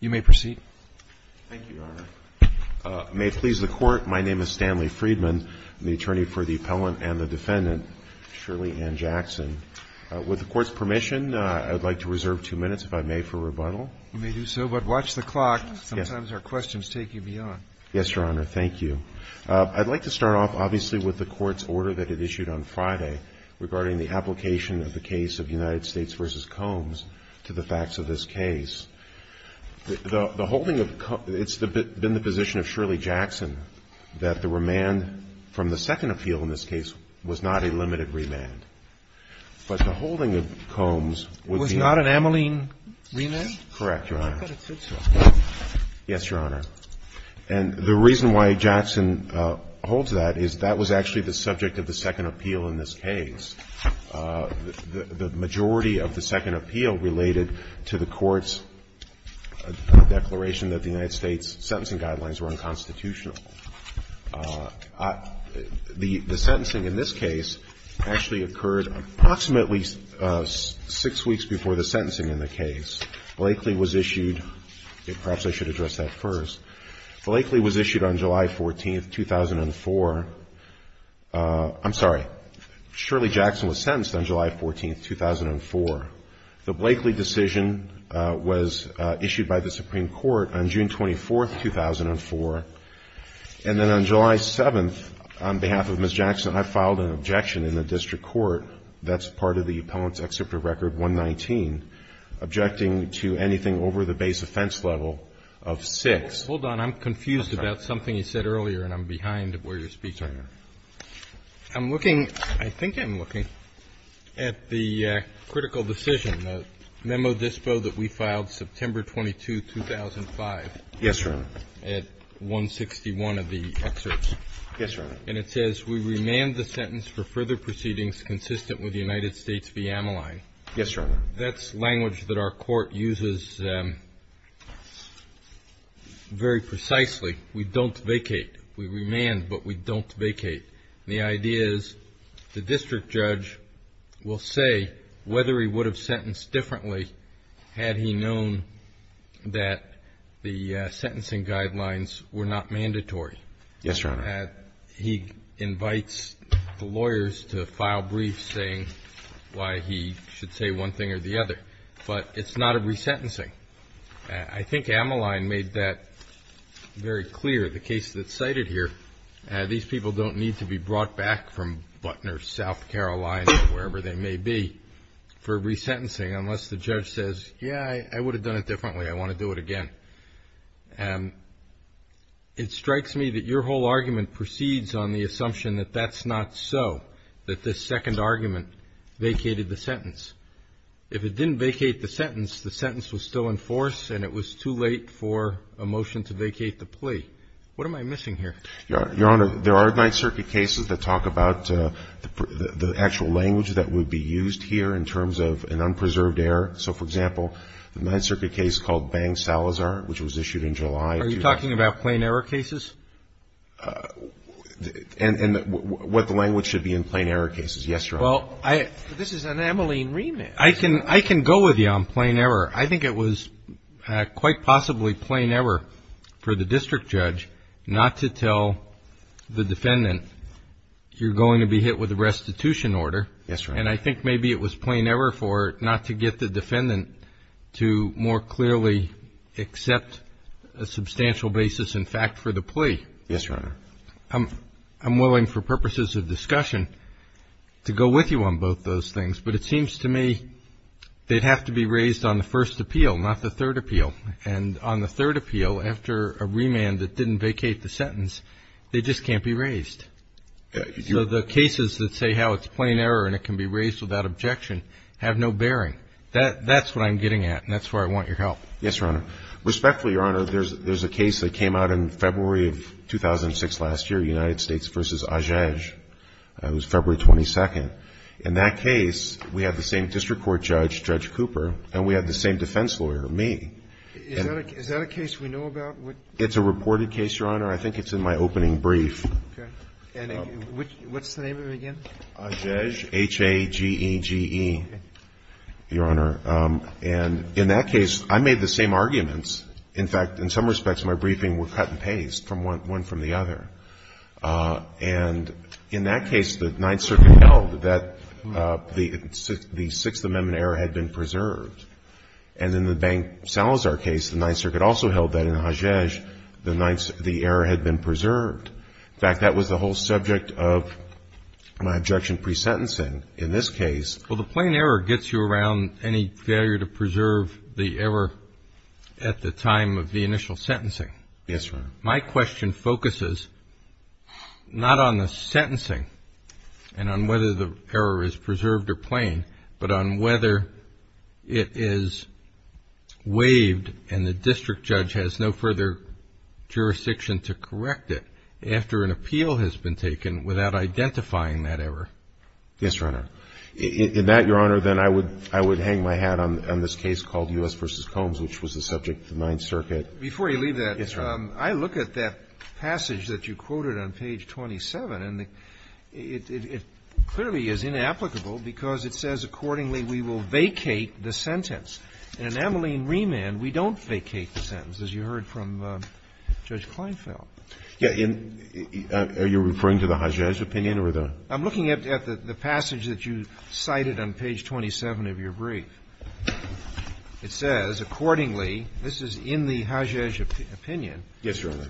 May it please the Court, my name is Stanley Friedman, I'm the attorney for the appellant and the defendant, Shirley Ann Jackson. With the Court's permission, I'd like to reserve two minutes, if I may, for rebuttal. You may do so, but watch the clock. Sometimes our questions take you beyond. Yes, Your Honor, thank you. I'd like to start off, obviously, with the Court's order that it issued on Friday regarding the application of the case of United States v. Combs, and I'd like to ask the Court to review the facts of this case. The holding of Combs It's been the position of Shirley Jackson that the remand from the second appeal in this case was not a limited remand. But the holding of Combs was not an amyline remand? Correct, Your Honor. I thought it said so. Yes, Your Honor. And the reason why Jackson holds that is that was actually the subject of the second appeal related to the Court's declaration that the United States sentencing guidelines were unconstitutional. The sentencing in this case actually occurred approximately six weeks before the sentencing in the case. Blakely was issued, perhaps I should address that first. Blakely was issued on July 14th, 2004. I'm sorry. Shirley Jackson was sentenced on July 14th, 2004. Blakely was sentenced on July 14th, 2004. Blakely was issued by the Supreme Court on June 24th, 2004. And then on July 7th, on behalf of Ms. Jackson, I filed an objection in the district court. That's part of the Appellant's Excerpt of Record 119, objecting to anything over the base offense level of six. Hold on. I'm confused about something you said earlier, and I'm behind where you're speaking. I'm looking, I think I'm looking at the critical decision of the Memo Dispo that we filed September 22, 2005. Yes, Your Honor. At 161 of the excerpts. Yes, Your Honor. And it says, we remand the sentence for further proceedings consistent with the United States v. Ameline. Yes, Your Honor. That's language that our court uses very precisely. We don't vacate. We remand, but we don't vacate. The idea is, the district judge will say whether he would have sentenced differently had he known that the sentencing guidelines were not mandatory. Yes, Your Honor. He invites the lawyers to file briefs saying why he should say one thing or the other. But it's not a resentencing. I think Ameline made that very clear, the case that's to be brought back from Butner, South Carolina, wherever they may be, for resentencing unless the judge says, yeah, I would have done it differently. I want to do it again. It strikes me that your whole argument proceeds on the assumption that that's not so, that this second argument vacated the sentence. If it didn't vacate the sentence, the sentence was still in force, and it was too late for a motion to vacate the plea. What am I missing here? Your Honor, there are Ninth Circuit cases that talk about the actual language that would be used here in terms of an unpreserved error. So, for example, the Ninth Circuit case called Bang-Salazar, which was issued in July of 2001. Are you talking about plain error cases? And what the language should be in plain error cases. Yes, Your Honor. This is an Ameline remand. I can go with you on plain error. I think it was quite possibly plain error for the district judge not to tell the defendant, you're going to be hit with a restitution order. Yes, Your Honor. And I think maybe it was plain error for it not to get the defendant to more clearly accept a substantial basis in fact for the plea. Yes, Your Honor. I'm willing for purposes of discussion to go with you on both those things, but it seems to me they'd have to be raised on the first appeal, not the third appeal, after a remand that didn't vacate the sentence. They just can't be raised. So the cases that say how it's plain error and it can be raised without objection have no bearing. That's what I'm getting at, and that's where I want your help. Yes, Your Honor. Respectfully, Your Honor, there's a case that came out in February of 2006 last year, United States v. Ajage. It was February 22nd. In that case, we had the same district court judge, Judge Cooper, and we had the same defense lawyer, me. Is that a case we know about? It's a reported case, Your Honor. I think it's in my opening brief. Okay. And what's the name of it again? Ajage, H-A-G-E-G-E, Your Honor. And in that case, I made the same arguments. In fact, in some respects, my briefing were cut and paste from one from the other. And in that case, the Ninth Circuit held that the Sixth Amendment error had been preserved, and in the Bank Salazar case, the Ninth Circuit also held that in Ajage, the error had been preserved. In fact, that was the whole subject of my objection pre-sentencing in this case. Well, the plain error gets you around any failure to preserve the error at the time of the initial sentencing. Yes, Your Honor. My question focuses not on the sentencing and on whether the error is preserved or plain, but on whether it is waived and the district judge has no further jurisdiction to correct it after an appeal has been taken without identifying that error. Yes, Your Honor. In that, Your Honor, then I would hang my hat on this case called U.S. v. Combs, which was the subject of the Ninth Circuit. Before you leave that, I look at that passage that you quoted on page 27, and it clearly is inapplicable because it says accordingly we will vacate the sentence. In ameline remand, we don't vacate the sentence, as you heard from Judge Kleinfeld. Are you referring to the Ajage opinion or the other? I'm looking at the passage that you cited on page 27 of your brief. It says, accordingly, this is in the Ajage opinion,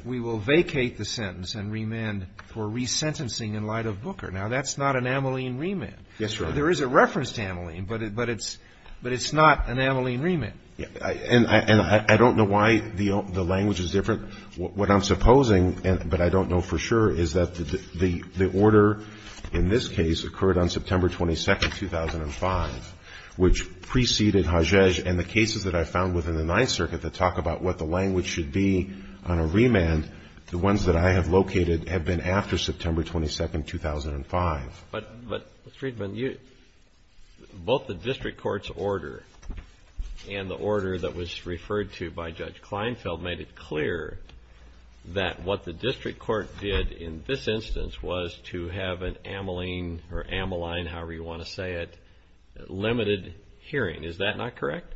we will vacate the sentence and remand for resentencing in light of Booker. Now, that's not an ameline remand. There is a reference to ameline, but it's not an ameline remand. And I don't know why the language is different. What I'm supposing, but I don't know for sure, is that the order in this case occurred on September 22, 2005, which preceded Ajage and the cases that I found within the Ninth Circuit that talk about what the language should be on a remand, the ones that I have located have been after September 22, 2005. But, Mr. Friedman, both the district court's order and the order that was referred to by Judge Kleinfeld made it clear that what the district court did in this instance was to have an ameline, or ameline, however you want to say it, limited hearing. Is that not correct?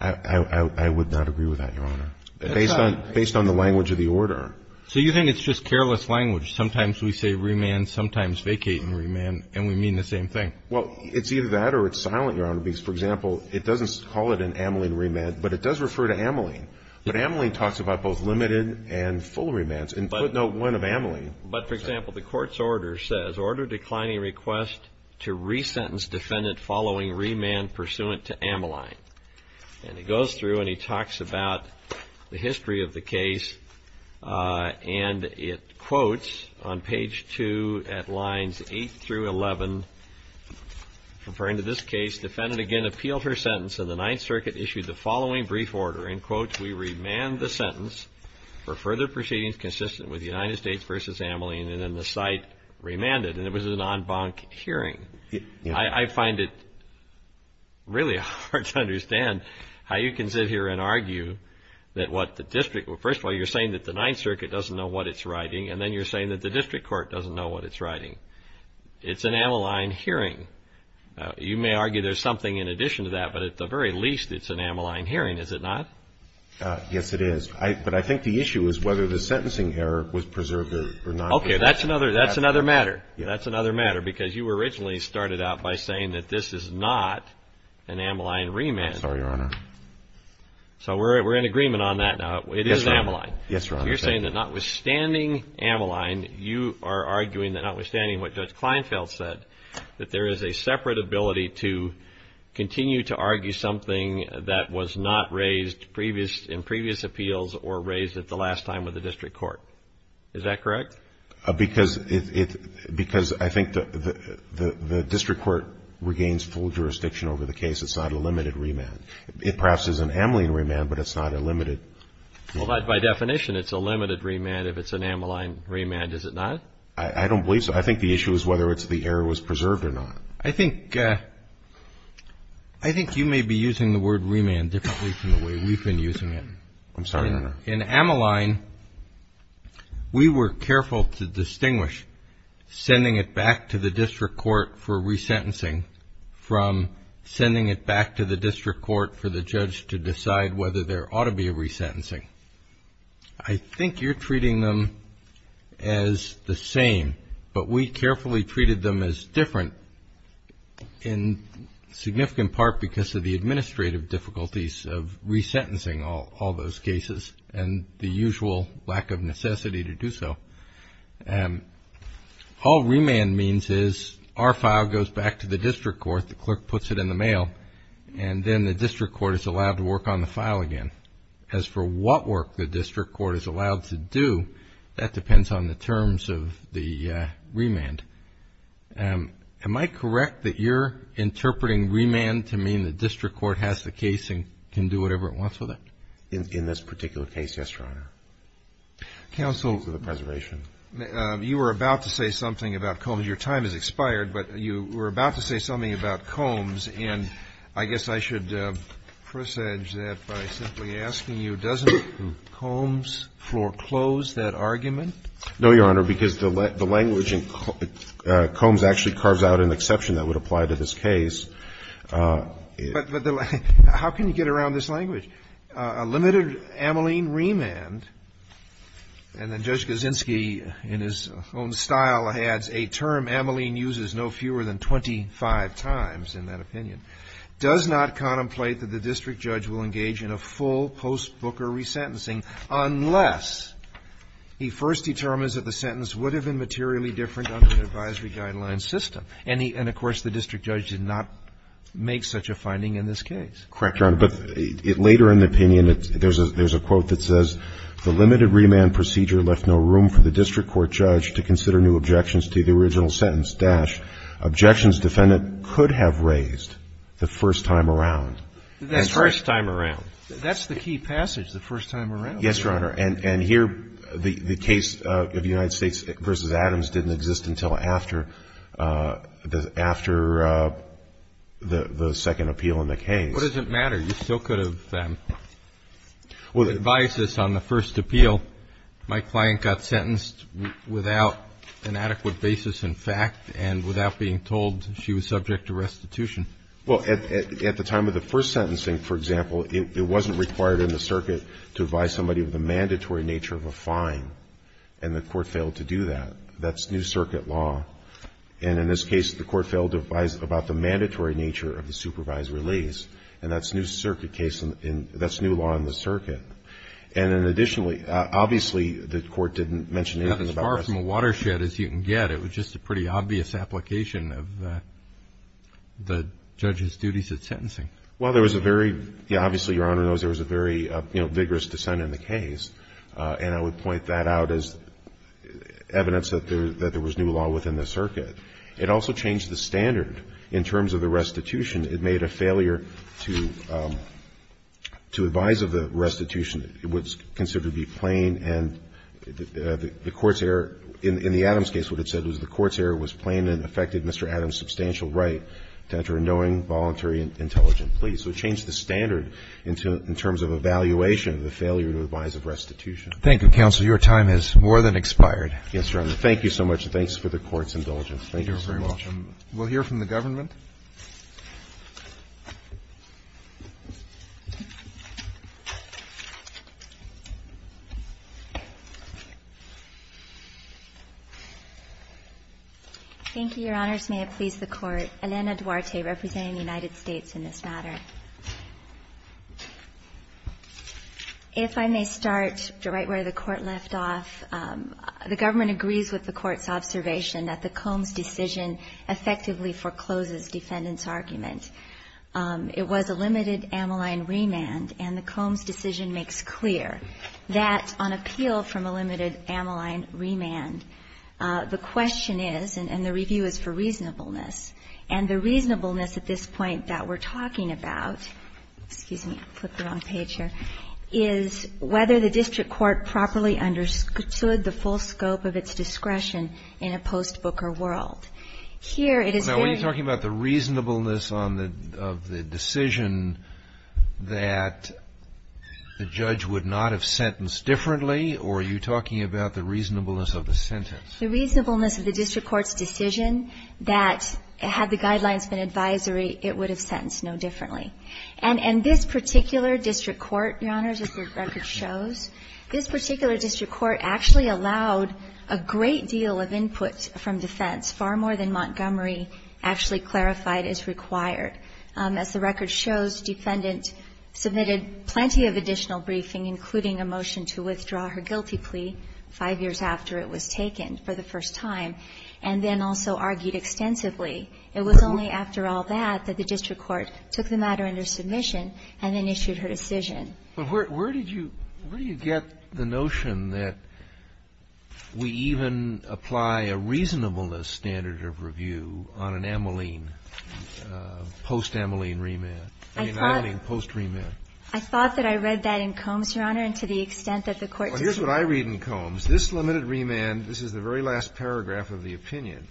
I would not agree with that, Your Honor. Based on the language of the order. So you think it's just careless language. Sometimes we say remand, sometimes vacating remand, and we mean the same thing. Well, it's either that or it's silent, Your Honor. Because, for example, it doesn't call it an ameline remand, but it does refer to ameline. But ameline talks about both limited and full remands. And put note one of ameline. But, for example, the court's order says, Order declining request to resentence defendant following remand pursuant to ameline. And it goes through and it talks about the history of the case. And it quotes on page 2 at lines 8 through 11, referring to this case, Defendant again appealed her sentence and the Ninth Circuit issued the following brief order, We remand the sentence for further proceedings consistent with United States v. Ameline. And then the site remanded. And it was an en banc hearing. I find it really hard to understand how you can sit here and argue that what the district, first of all, you're saying that the Ninth Circuit doesn't know what it's writing, and then you're saying that the district court doesn't know what it's writing. It's an ameline hearing. You may argue there's something in addition to that, but at the very least it's an ameline hearing, is it not? Yes, it is. But I think the issue is whether the sentencing error was preserved or not. Okay, that's another matter. That's another matter because you originally started out by saying that this is not an ameline remand. I'm sorry, Your Honor. So we're in agreement on that now. It is an ameline. Yes, Your Honor. So you're saying that notwithstanding ameline, you are arguing that notwithstanding what Judge Kleinfeld said, that there is a separate ability to continue to argue something that was not raised in previous appeals or raised at the last time with the district court. Is that correct? Because I think the district court regains full jurisdiction over the case. It's not a limited remand. It perhaps is an ameline remand, but it's not a limited. But by definition it's a limited remand if it's an ameline remand, is it not? I don't believe so. I think the issue is whether the error was preserved or not. I think you may be using the word remand differently from the way we've been using it. I'm sorry, Your Honor. In ameline, we were careful to distinguish sending it back to the district court for resentencing from sending it back to the district court for the judge to decide whether there ought to be a resentencing. I think you're treating them as the same, but we carefully treated them as different in significant part because of the administrative difficulties of resentencing all those cases and the usual lack of necessity to do so. All remand means is our file goes back to the district court, the clerk puts it in the mail, and then the district court is allowed to work on the file again. As for what work the district court is allowed to do, that depends on the terms of the remand. Am I correct that you're interpreting remand to mean the district court has the case and can do whatever it wants with it? In this particular case, yes, Your Honor. Counsel, you were about to say something about Combs. Your time has expired, but you were about to say something about Combs, and I guess I should presage that by simply asking you, doesn't Combs foreclose that argument? No, Your Honor, because the language in Combs actually carves out an exception that would apply to this case. But how can you get around this language? A limited Ameline remand, and then Judge Kaczynski in his own style adds a term Ameline uses no fewer than 25 times in that opinion, does not contemplate that the district judge will engage in a full post-Booker resentencing unless he first determines that the sentence would have been materially different under the advisory guideline system. And, of course, the district judge did not make such a finding in this case. Correct, Your Honor. But later in the opinion, there's a quote that says, the limited remand procedure left no room for the district court judge to consider new objections to the original sentence- objections defendant could have raised the first time around. The first time around. That's the key passage, the first time around. Yes, Your Honor. And here, the case of United States v. Adams didn't exist until after the second appeal in the case. What does it matter? You still could have advised us on the first appeal. My client got sentenced without an adequate basis in fact and without being told she was subject to restitution. Well, at the time of the first sentencing, for example, it wasn't required in the circuit to advise somebody of the mandatory nature of a fine. And the court failed to do that. That's new circuit law. And in this case, the court failed to advise about the mandatory nature of the supervised release. And that's new law in the circuit. And then additionally, obviously, the court didn't mention anything about- Not as far from a watershed as you can get. It was just a pretty obvious application of the judge's duties at sentencing. Well, there was a very- Yeah, obviously, Your Honor, there was a very vigorous dissent in the case. And I would point that out as evidence that there was new law within the circuit. It also changed the standard in terms of the restitution. It made a failure to advise of the restitution. It was considered to be plain. And the court's error- In the Adams case, what it said was the court's error was plain and affected Mr. Adams' substantial right to enter a knowing, voluntary, and intelligent plea. So it changed the standard in terms of evaluation of the failure to advise of restitution. Thank you, counsel. Your time has more than expired. Yes, Your Honor. Thank you so much. And thanks for the court's indulgence. Thank you so much. You're very welcome. We'll hear from the government. Thank you, Your Honors. May it please the Court. Elena Duarte, representing the United States, in this matter. If I may start right where the Court left off, the government agrees with the Court's observation that the Combs decision effectively forecloses defendant's argument. It was a limited amyline remand, and the Combs decision makes clear that on appeal from a limited amyline remand, the question is, and the review is for reasonableness, and the reasonableness at this point that we're talking about is whether the district court properly understood the full scope of its discretion in a post-Booker world. Now, when you're talking about the reasonableness of the decision, that the judge would not have sentenced differently, or are you talking about the reasonableness of the sentence? The reasonableness of the district court's decision that had the guidelines been advisory, it would have sentenced no differently. And this particular district court, Your Honors, as the record shows, this particular district court actually allowed a great deal of input from defense, far more than Montgomery actually clarified as required. As the record shows, defendant submitted plenty of additional briefing, including a motion to withdraw her guilty plea five years after it was taken for the first time, and then also argued extensively. It was only after all that that the district court took the matter under submission and then issued her decision. But where did you get the notion that we even apply a reasonableness standard of review on an ameline, post-ameline remand? I mean, I don't mean post-remand. I thought that I read that in Combs, Your Honor, and to the extent that the court does not. Well, here's what I read in Combs. This limited remand, this is the very last paragraph of the opinion,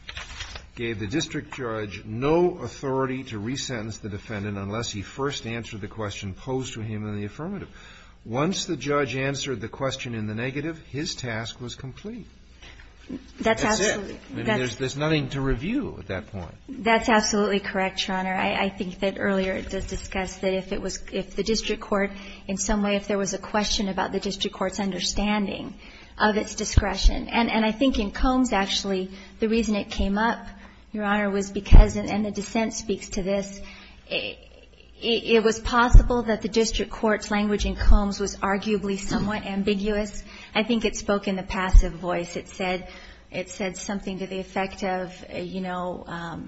gave the district judge no authority to resentence the defendant unless he first answered the question posed to him in the affirmative. Once the judge answered the question in the negative, his task was complete. That's it. That's absolutely. I mean, there's nothing to review at that point. That's absolutely correct, Your Honor. I think that earlier it does discuss that if it was the district court, in some way if there was a question about the district court's understanding of its discretion. And I think in Combs, actually, the reason it came up, Your Honor, was because, and the dissent speaks to this, it was possible that the district court's language in Combs was arguably somewhat ambiguous. I think it spoke in the passive voice. It said something to the effect of, you know,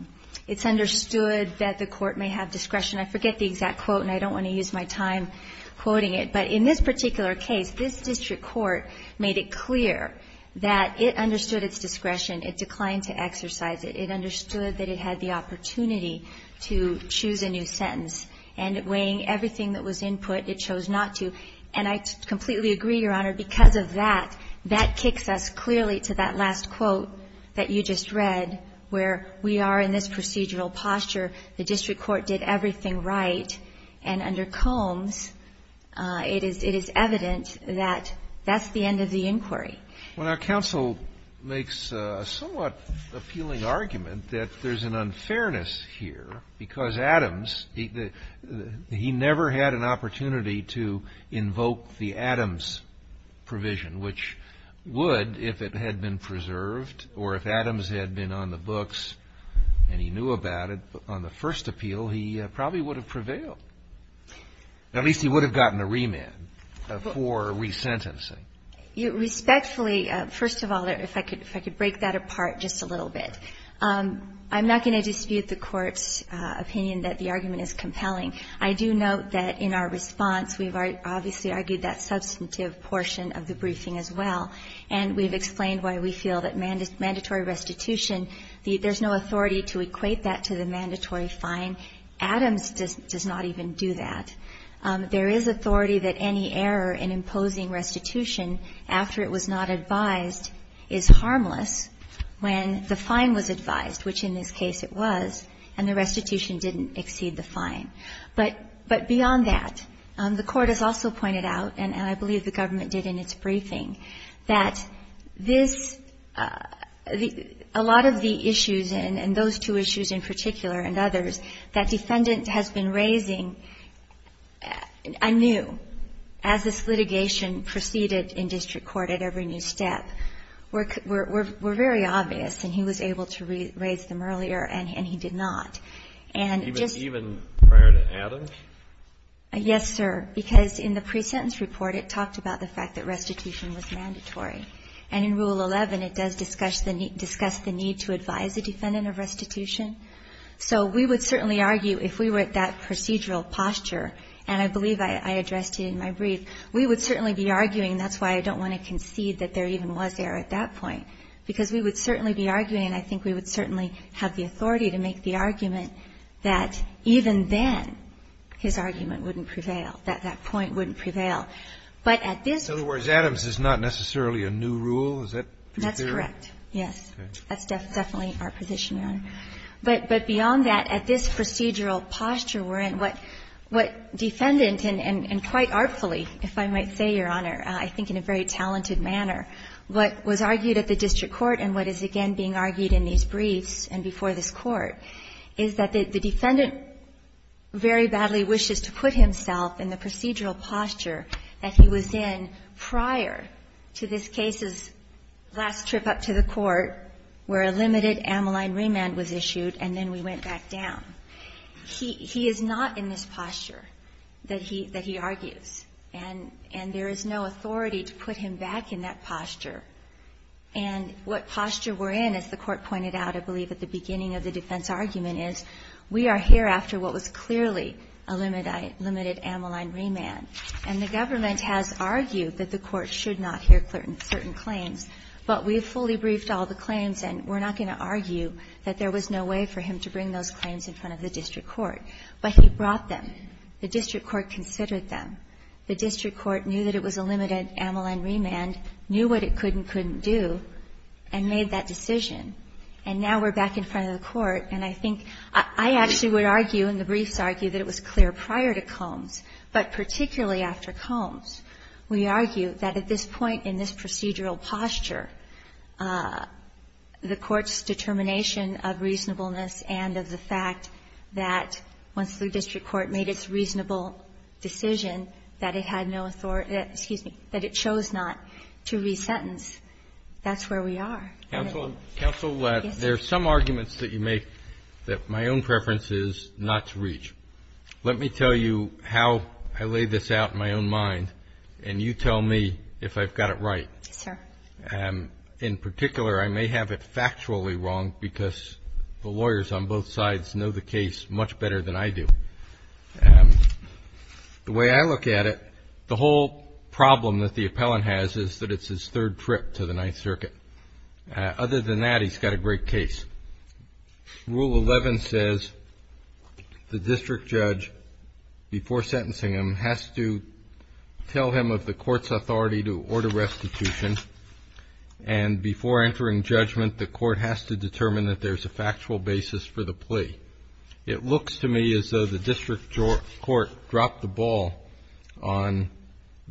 it's understood that the court may have discretion. I forget the exact quote, and I don't want to use my time quoting it. But in this particular case, this district court made it clear that it understood its discretion. It declined to exercise it. It understood that it had the opportunity to choose a new sentence. And weighing everything that was input, it chose not to. And I completely agree, Your Honor, because of that, that kicks us clearly to that last quote that you just read, where we are in this procedural posture. The district court did everything right. And under Combs, it is evident that that's the end of the inquiry. Well, now, counsel makes a somewhat appealing argument that there's an unfairness here because Adams, he never had an opportunity to invoke the Adams provision, which would if it had been preserved or if Adams had been on the books and he knew about it on the first appeal, he probably would have prevailed. At least he would have gotten a remand for resentencing. Respectfully, first of all, if I could break that apart just a little bit, I'm not going to dispute the Court's opinion that the argument is compelling. I do note that in our response, we've obviously argued that substantive portion of the briefing as well. And we've explained why we feel that mandatory restitution, there's no authority to equate that to the mandatory fine. Adams does not even do that. There is authority that any error in imposing restitution after it was not advised is harmless when the fine was advised, which in this case it was, and the restitution didn't exceed the fine. But beyond that, the Court has also pointed out, and I believe the government did in its briefing, that this, a lot of the issues, and those two issues in particular and others, that defendant has been raising anew as this litigation proceeded in district court at every new step, were very obvious, and he was able to raise them earlier and he did not. Even prior to Adams? Yes, sir. Because in the pre-sentence report, it talked about the fact that restitution was mandatory. And in Rule 11, it does discuss the need to advise a defendant of restitution. So we would certainly argue, if we were at that procedural posture, and I believe I addressed it in my brief, we would certainly be arguing, and that's why I don't want to concede that there even was error at that point, because we would certainly be arguing and I think we would certainly have the authority to make the argument that even then, his argument wouldn't prevail, that that point wouldn't prevail. In other words, Adams is not necessarily a new rule? That's correct, yes. That's definitely our position, Your Honor. But beyond that, at this procedural posture, what defendant, and quite artfully, if I might say, Your Honor, I think in a very talented manner, what was argued at the district court and what is again being argued in these briefs and before this Court, is that the defendant very badly wishes to put himself in the procedural posture that he was in prior to this case's last trip up to the Court where a limited amyline remand was issued and then we went back down. He is not in this posture that he argues. And there is no authority to put him back in that posture. And what posture we're in, as the Court pointed out, I believe, at the beginning of the defense argument, is we are here after what was clearly a limited amyline remand. And the government has argued that the Court should not hear certain claims, but we've fully briefed all the claims and we're not going to argue that there was no way for him to bring those claims in front of the district court. But he brought them. The district court considered them. The district court knew that it was a limited amyline remand, knew what it could and couldn't do, and made that decision. And now we're back in front of the Court and I think I actually would argue in the briefs argue that it was clear prior to Combs, but particularly after Combs. We argue that at this point in this procedural posture the Court's determination of reasonableness and of the fact that once the district court made its reasonable decision that it had no authority, excuse me, that it chose not to resentence, that's where we are. Counsel, there are some arguments that you make that my own preference is not to reach. Let me tell you how I lay this out in my own mind and you tell me if I've got it right. Yes, sir. In particular, I may have it factually wrong because the lawyers on both sides know the case much better than I do. The way I look at it, the whole problem that the appellant has is that it's his third trip to the Ninth Circuit. Other than that, he's got a great case. Rule 11 says the district judge before sentencing him has to tell him of the Court's authority to order restitution and before entering judgment the Court has to determine that there's a factual basis for the plea. It looks to me as though the district court dropped the ball on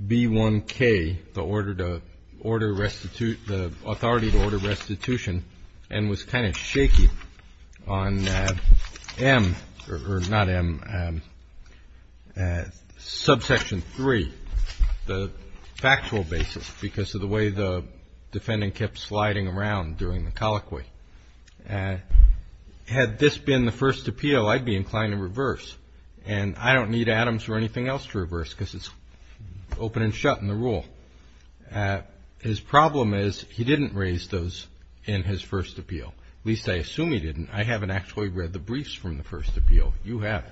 B1K, the order to order restitution, the authority to order restitution and was kind of shaky on M or not M subsection 3, the factual basis because of the way the defendant kept sliding around during the colloquy. Had this been the first appeal, I'd be inclined to reverse and I don't need Adams or anything else to reverse because it's open and shut in the rule. His problem is he didn't raise those in his first appeal. At least I assume he didn't. I haven't actually read the briefs from the first appeal. You have.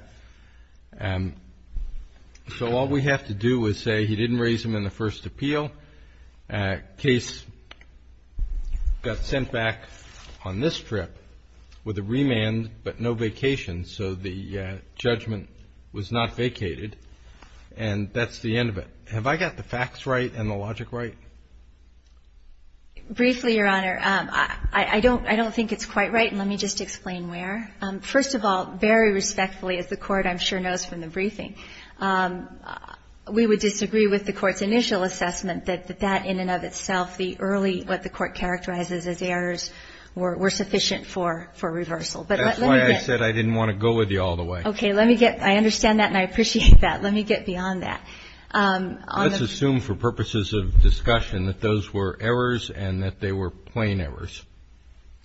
So all we have to do is say he didn't raise them in the first appeal case got sent back on this trip with a remand but no vacation so the judgment was not vacated and that's the end of it. Have I got the facts right and the logic right? Briefly, Your Honor, I don't think it's quite right and let me just explain where. First of all, very respectfully as the Court I'm sure knows from the briefing we would disagree with the Court's initial assessment that in and of itself the early what the Court characterizes as errors were sufficient for reversal. That's why I said I didn't want to go with you all the way. Okay, let me get I understand that and I appreciate that. Let me get beyond that. Let's assume for purposes of discussion that those were errors and that they were plain errors.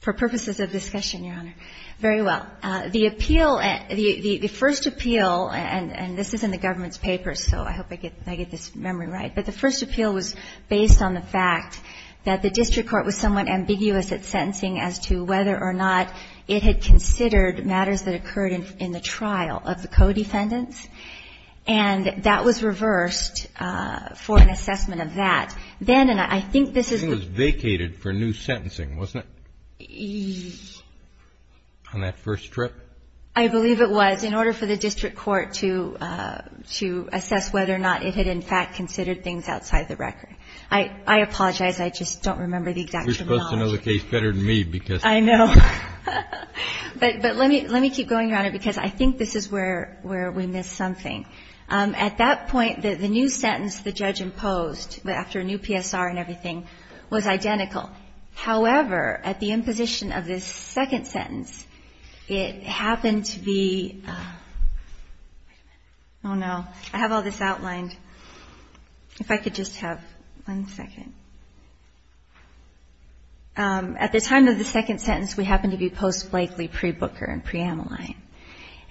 For purposes of discussion, Your Honor. Very well. The appeal, the first appeal and this is in the government's papers so I hope I get this memory right, but the first appeal was based on the fact that the District Court was somewhat ambiguous at sentencing as to whether or not it had considered matters that occurred in the trial of the co-defendants and that was reversed for an assessment of that. Then, and I think this is. It was vacated for new sentencing, wasn't it? On that first trip? I believe it was. In order for the District Court to have in fact considered things outside the record. I apologize. I just don't remember the exact terminology. You're supposed to know the case better than me because. I know. But let me keep going, Your Honor because I think this is where we missed something. At that point, the new sentence the judge imposed after a new PSR and everything was identical. However, at the imposition of this second sentence, it happened to be oh no I have all this outlined if I could just have one second At the time of the second sentence, we happen to be post-Blakely pre-Booker and pre-Amyline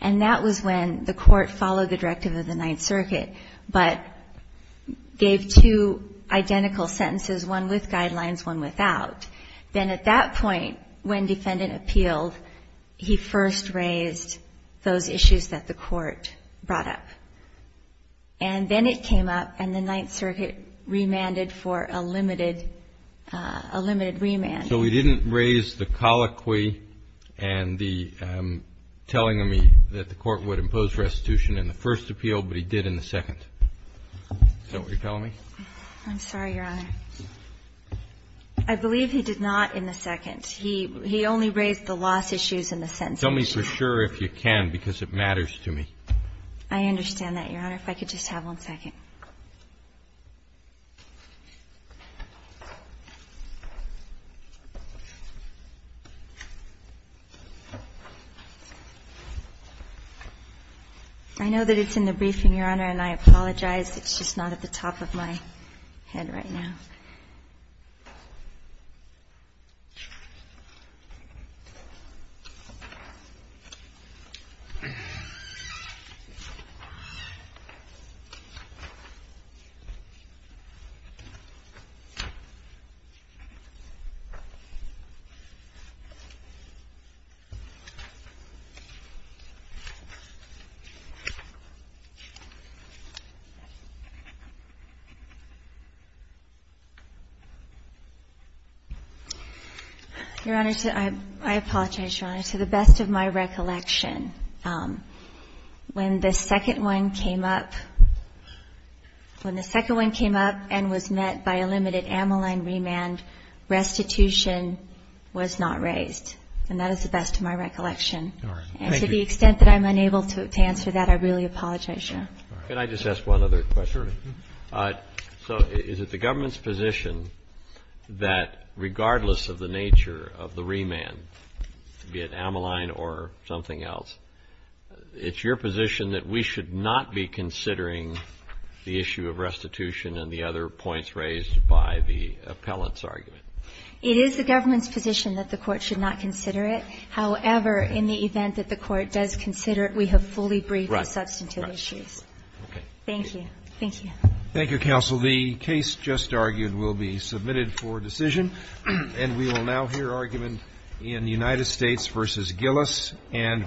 and that was when the court followed the directive of the Ninth Circuit but gave two identical sentences, one with guidelines, one without. Then at that point, when defendant appealed, he first raised those issues that the and then it came up and the Ninth Circuit remanded for a limited remand. So he didn't raise the colloquy and the telling of me that the court would impose restitution in the first appeal but he did in the second? Is that what you're telling me? I'm sorry, Your Honor. I believe he did not in the second. He only raised the loss issues in the sentence. Tell me for sure if you can because it matters to me. I understand that, Your Honor. If I could just have one second. I know that it's in the briefing, Your Honor, and I apologize. It's just not at the top of my head right now. Your Honor, I apologize, Your Honor. To the best of my recollection, when the second one came up and was met by a limited Ammaline remand, restitution was not raised. And that is the best of my recollection. And to the extent that I'm unable to answer that, I really apologize, Your Honor. Can I just ask one other question? So is it the government's position that regardless of the nature of the remand, be it Ammaline or something else, it's your position that we should not be considering the issue of restitution and the other points raised by the appellant's argument? It is the government's position that the Court should not consider it. However, in the event that the Court does consider it, we have fully briefed the substantive issues. Thank you. Thank you, Counsel. The case just argued will be submitted for decision and we will now hear argument in United States v. Gillis and Brittingham.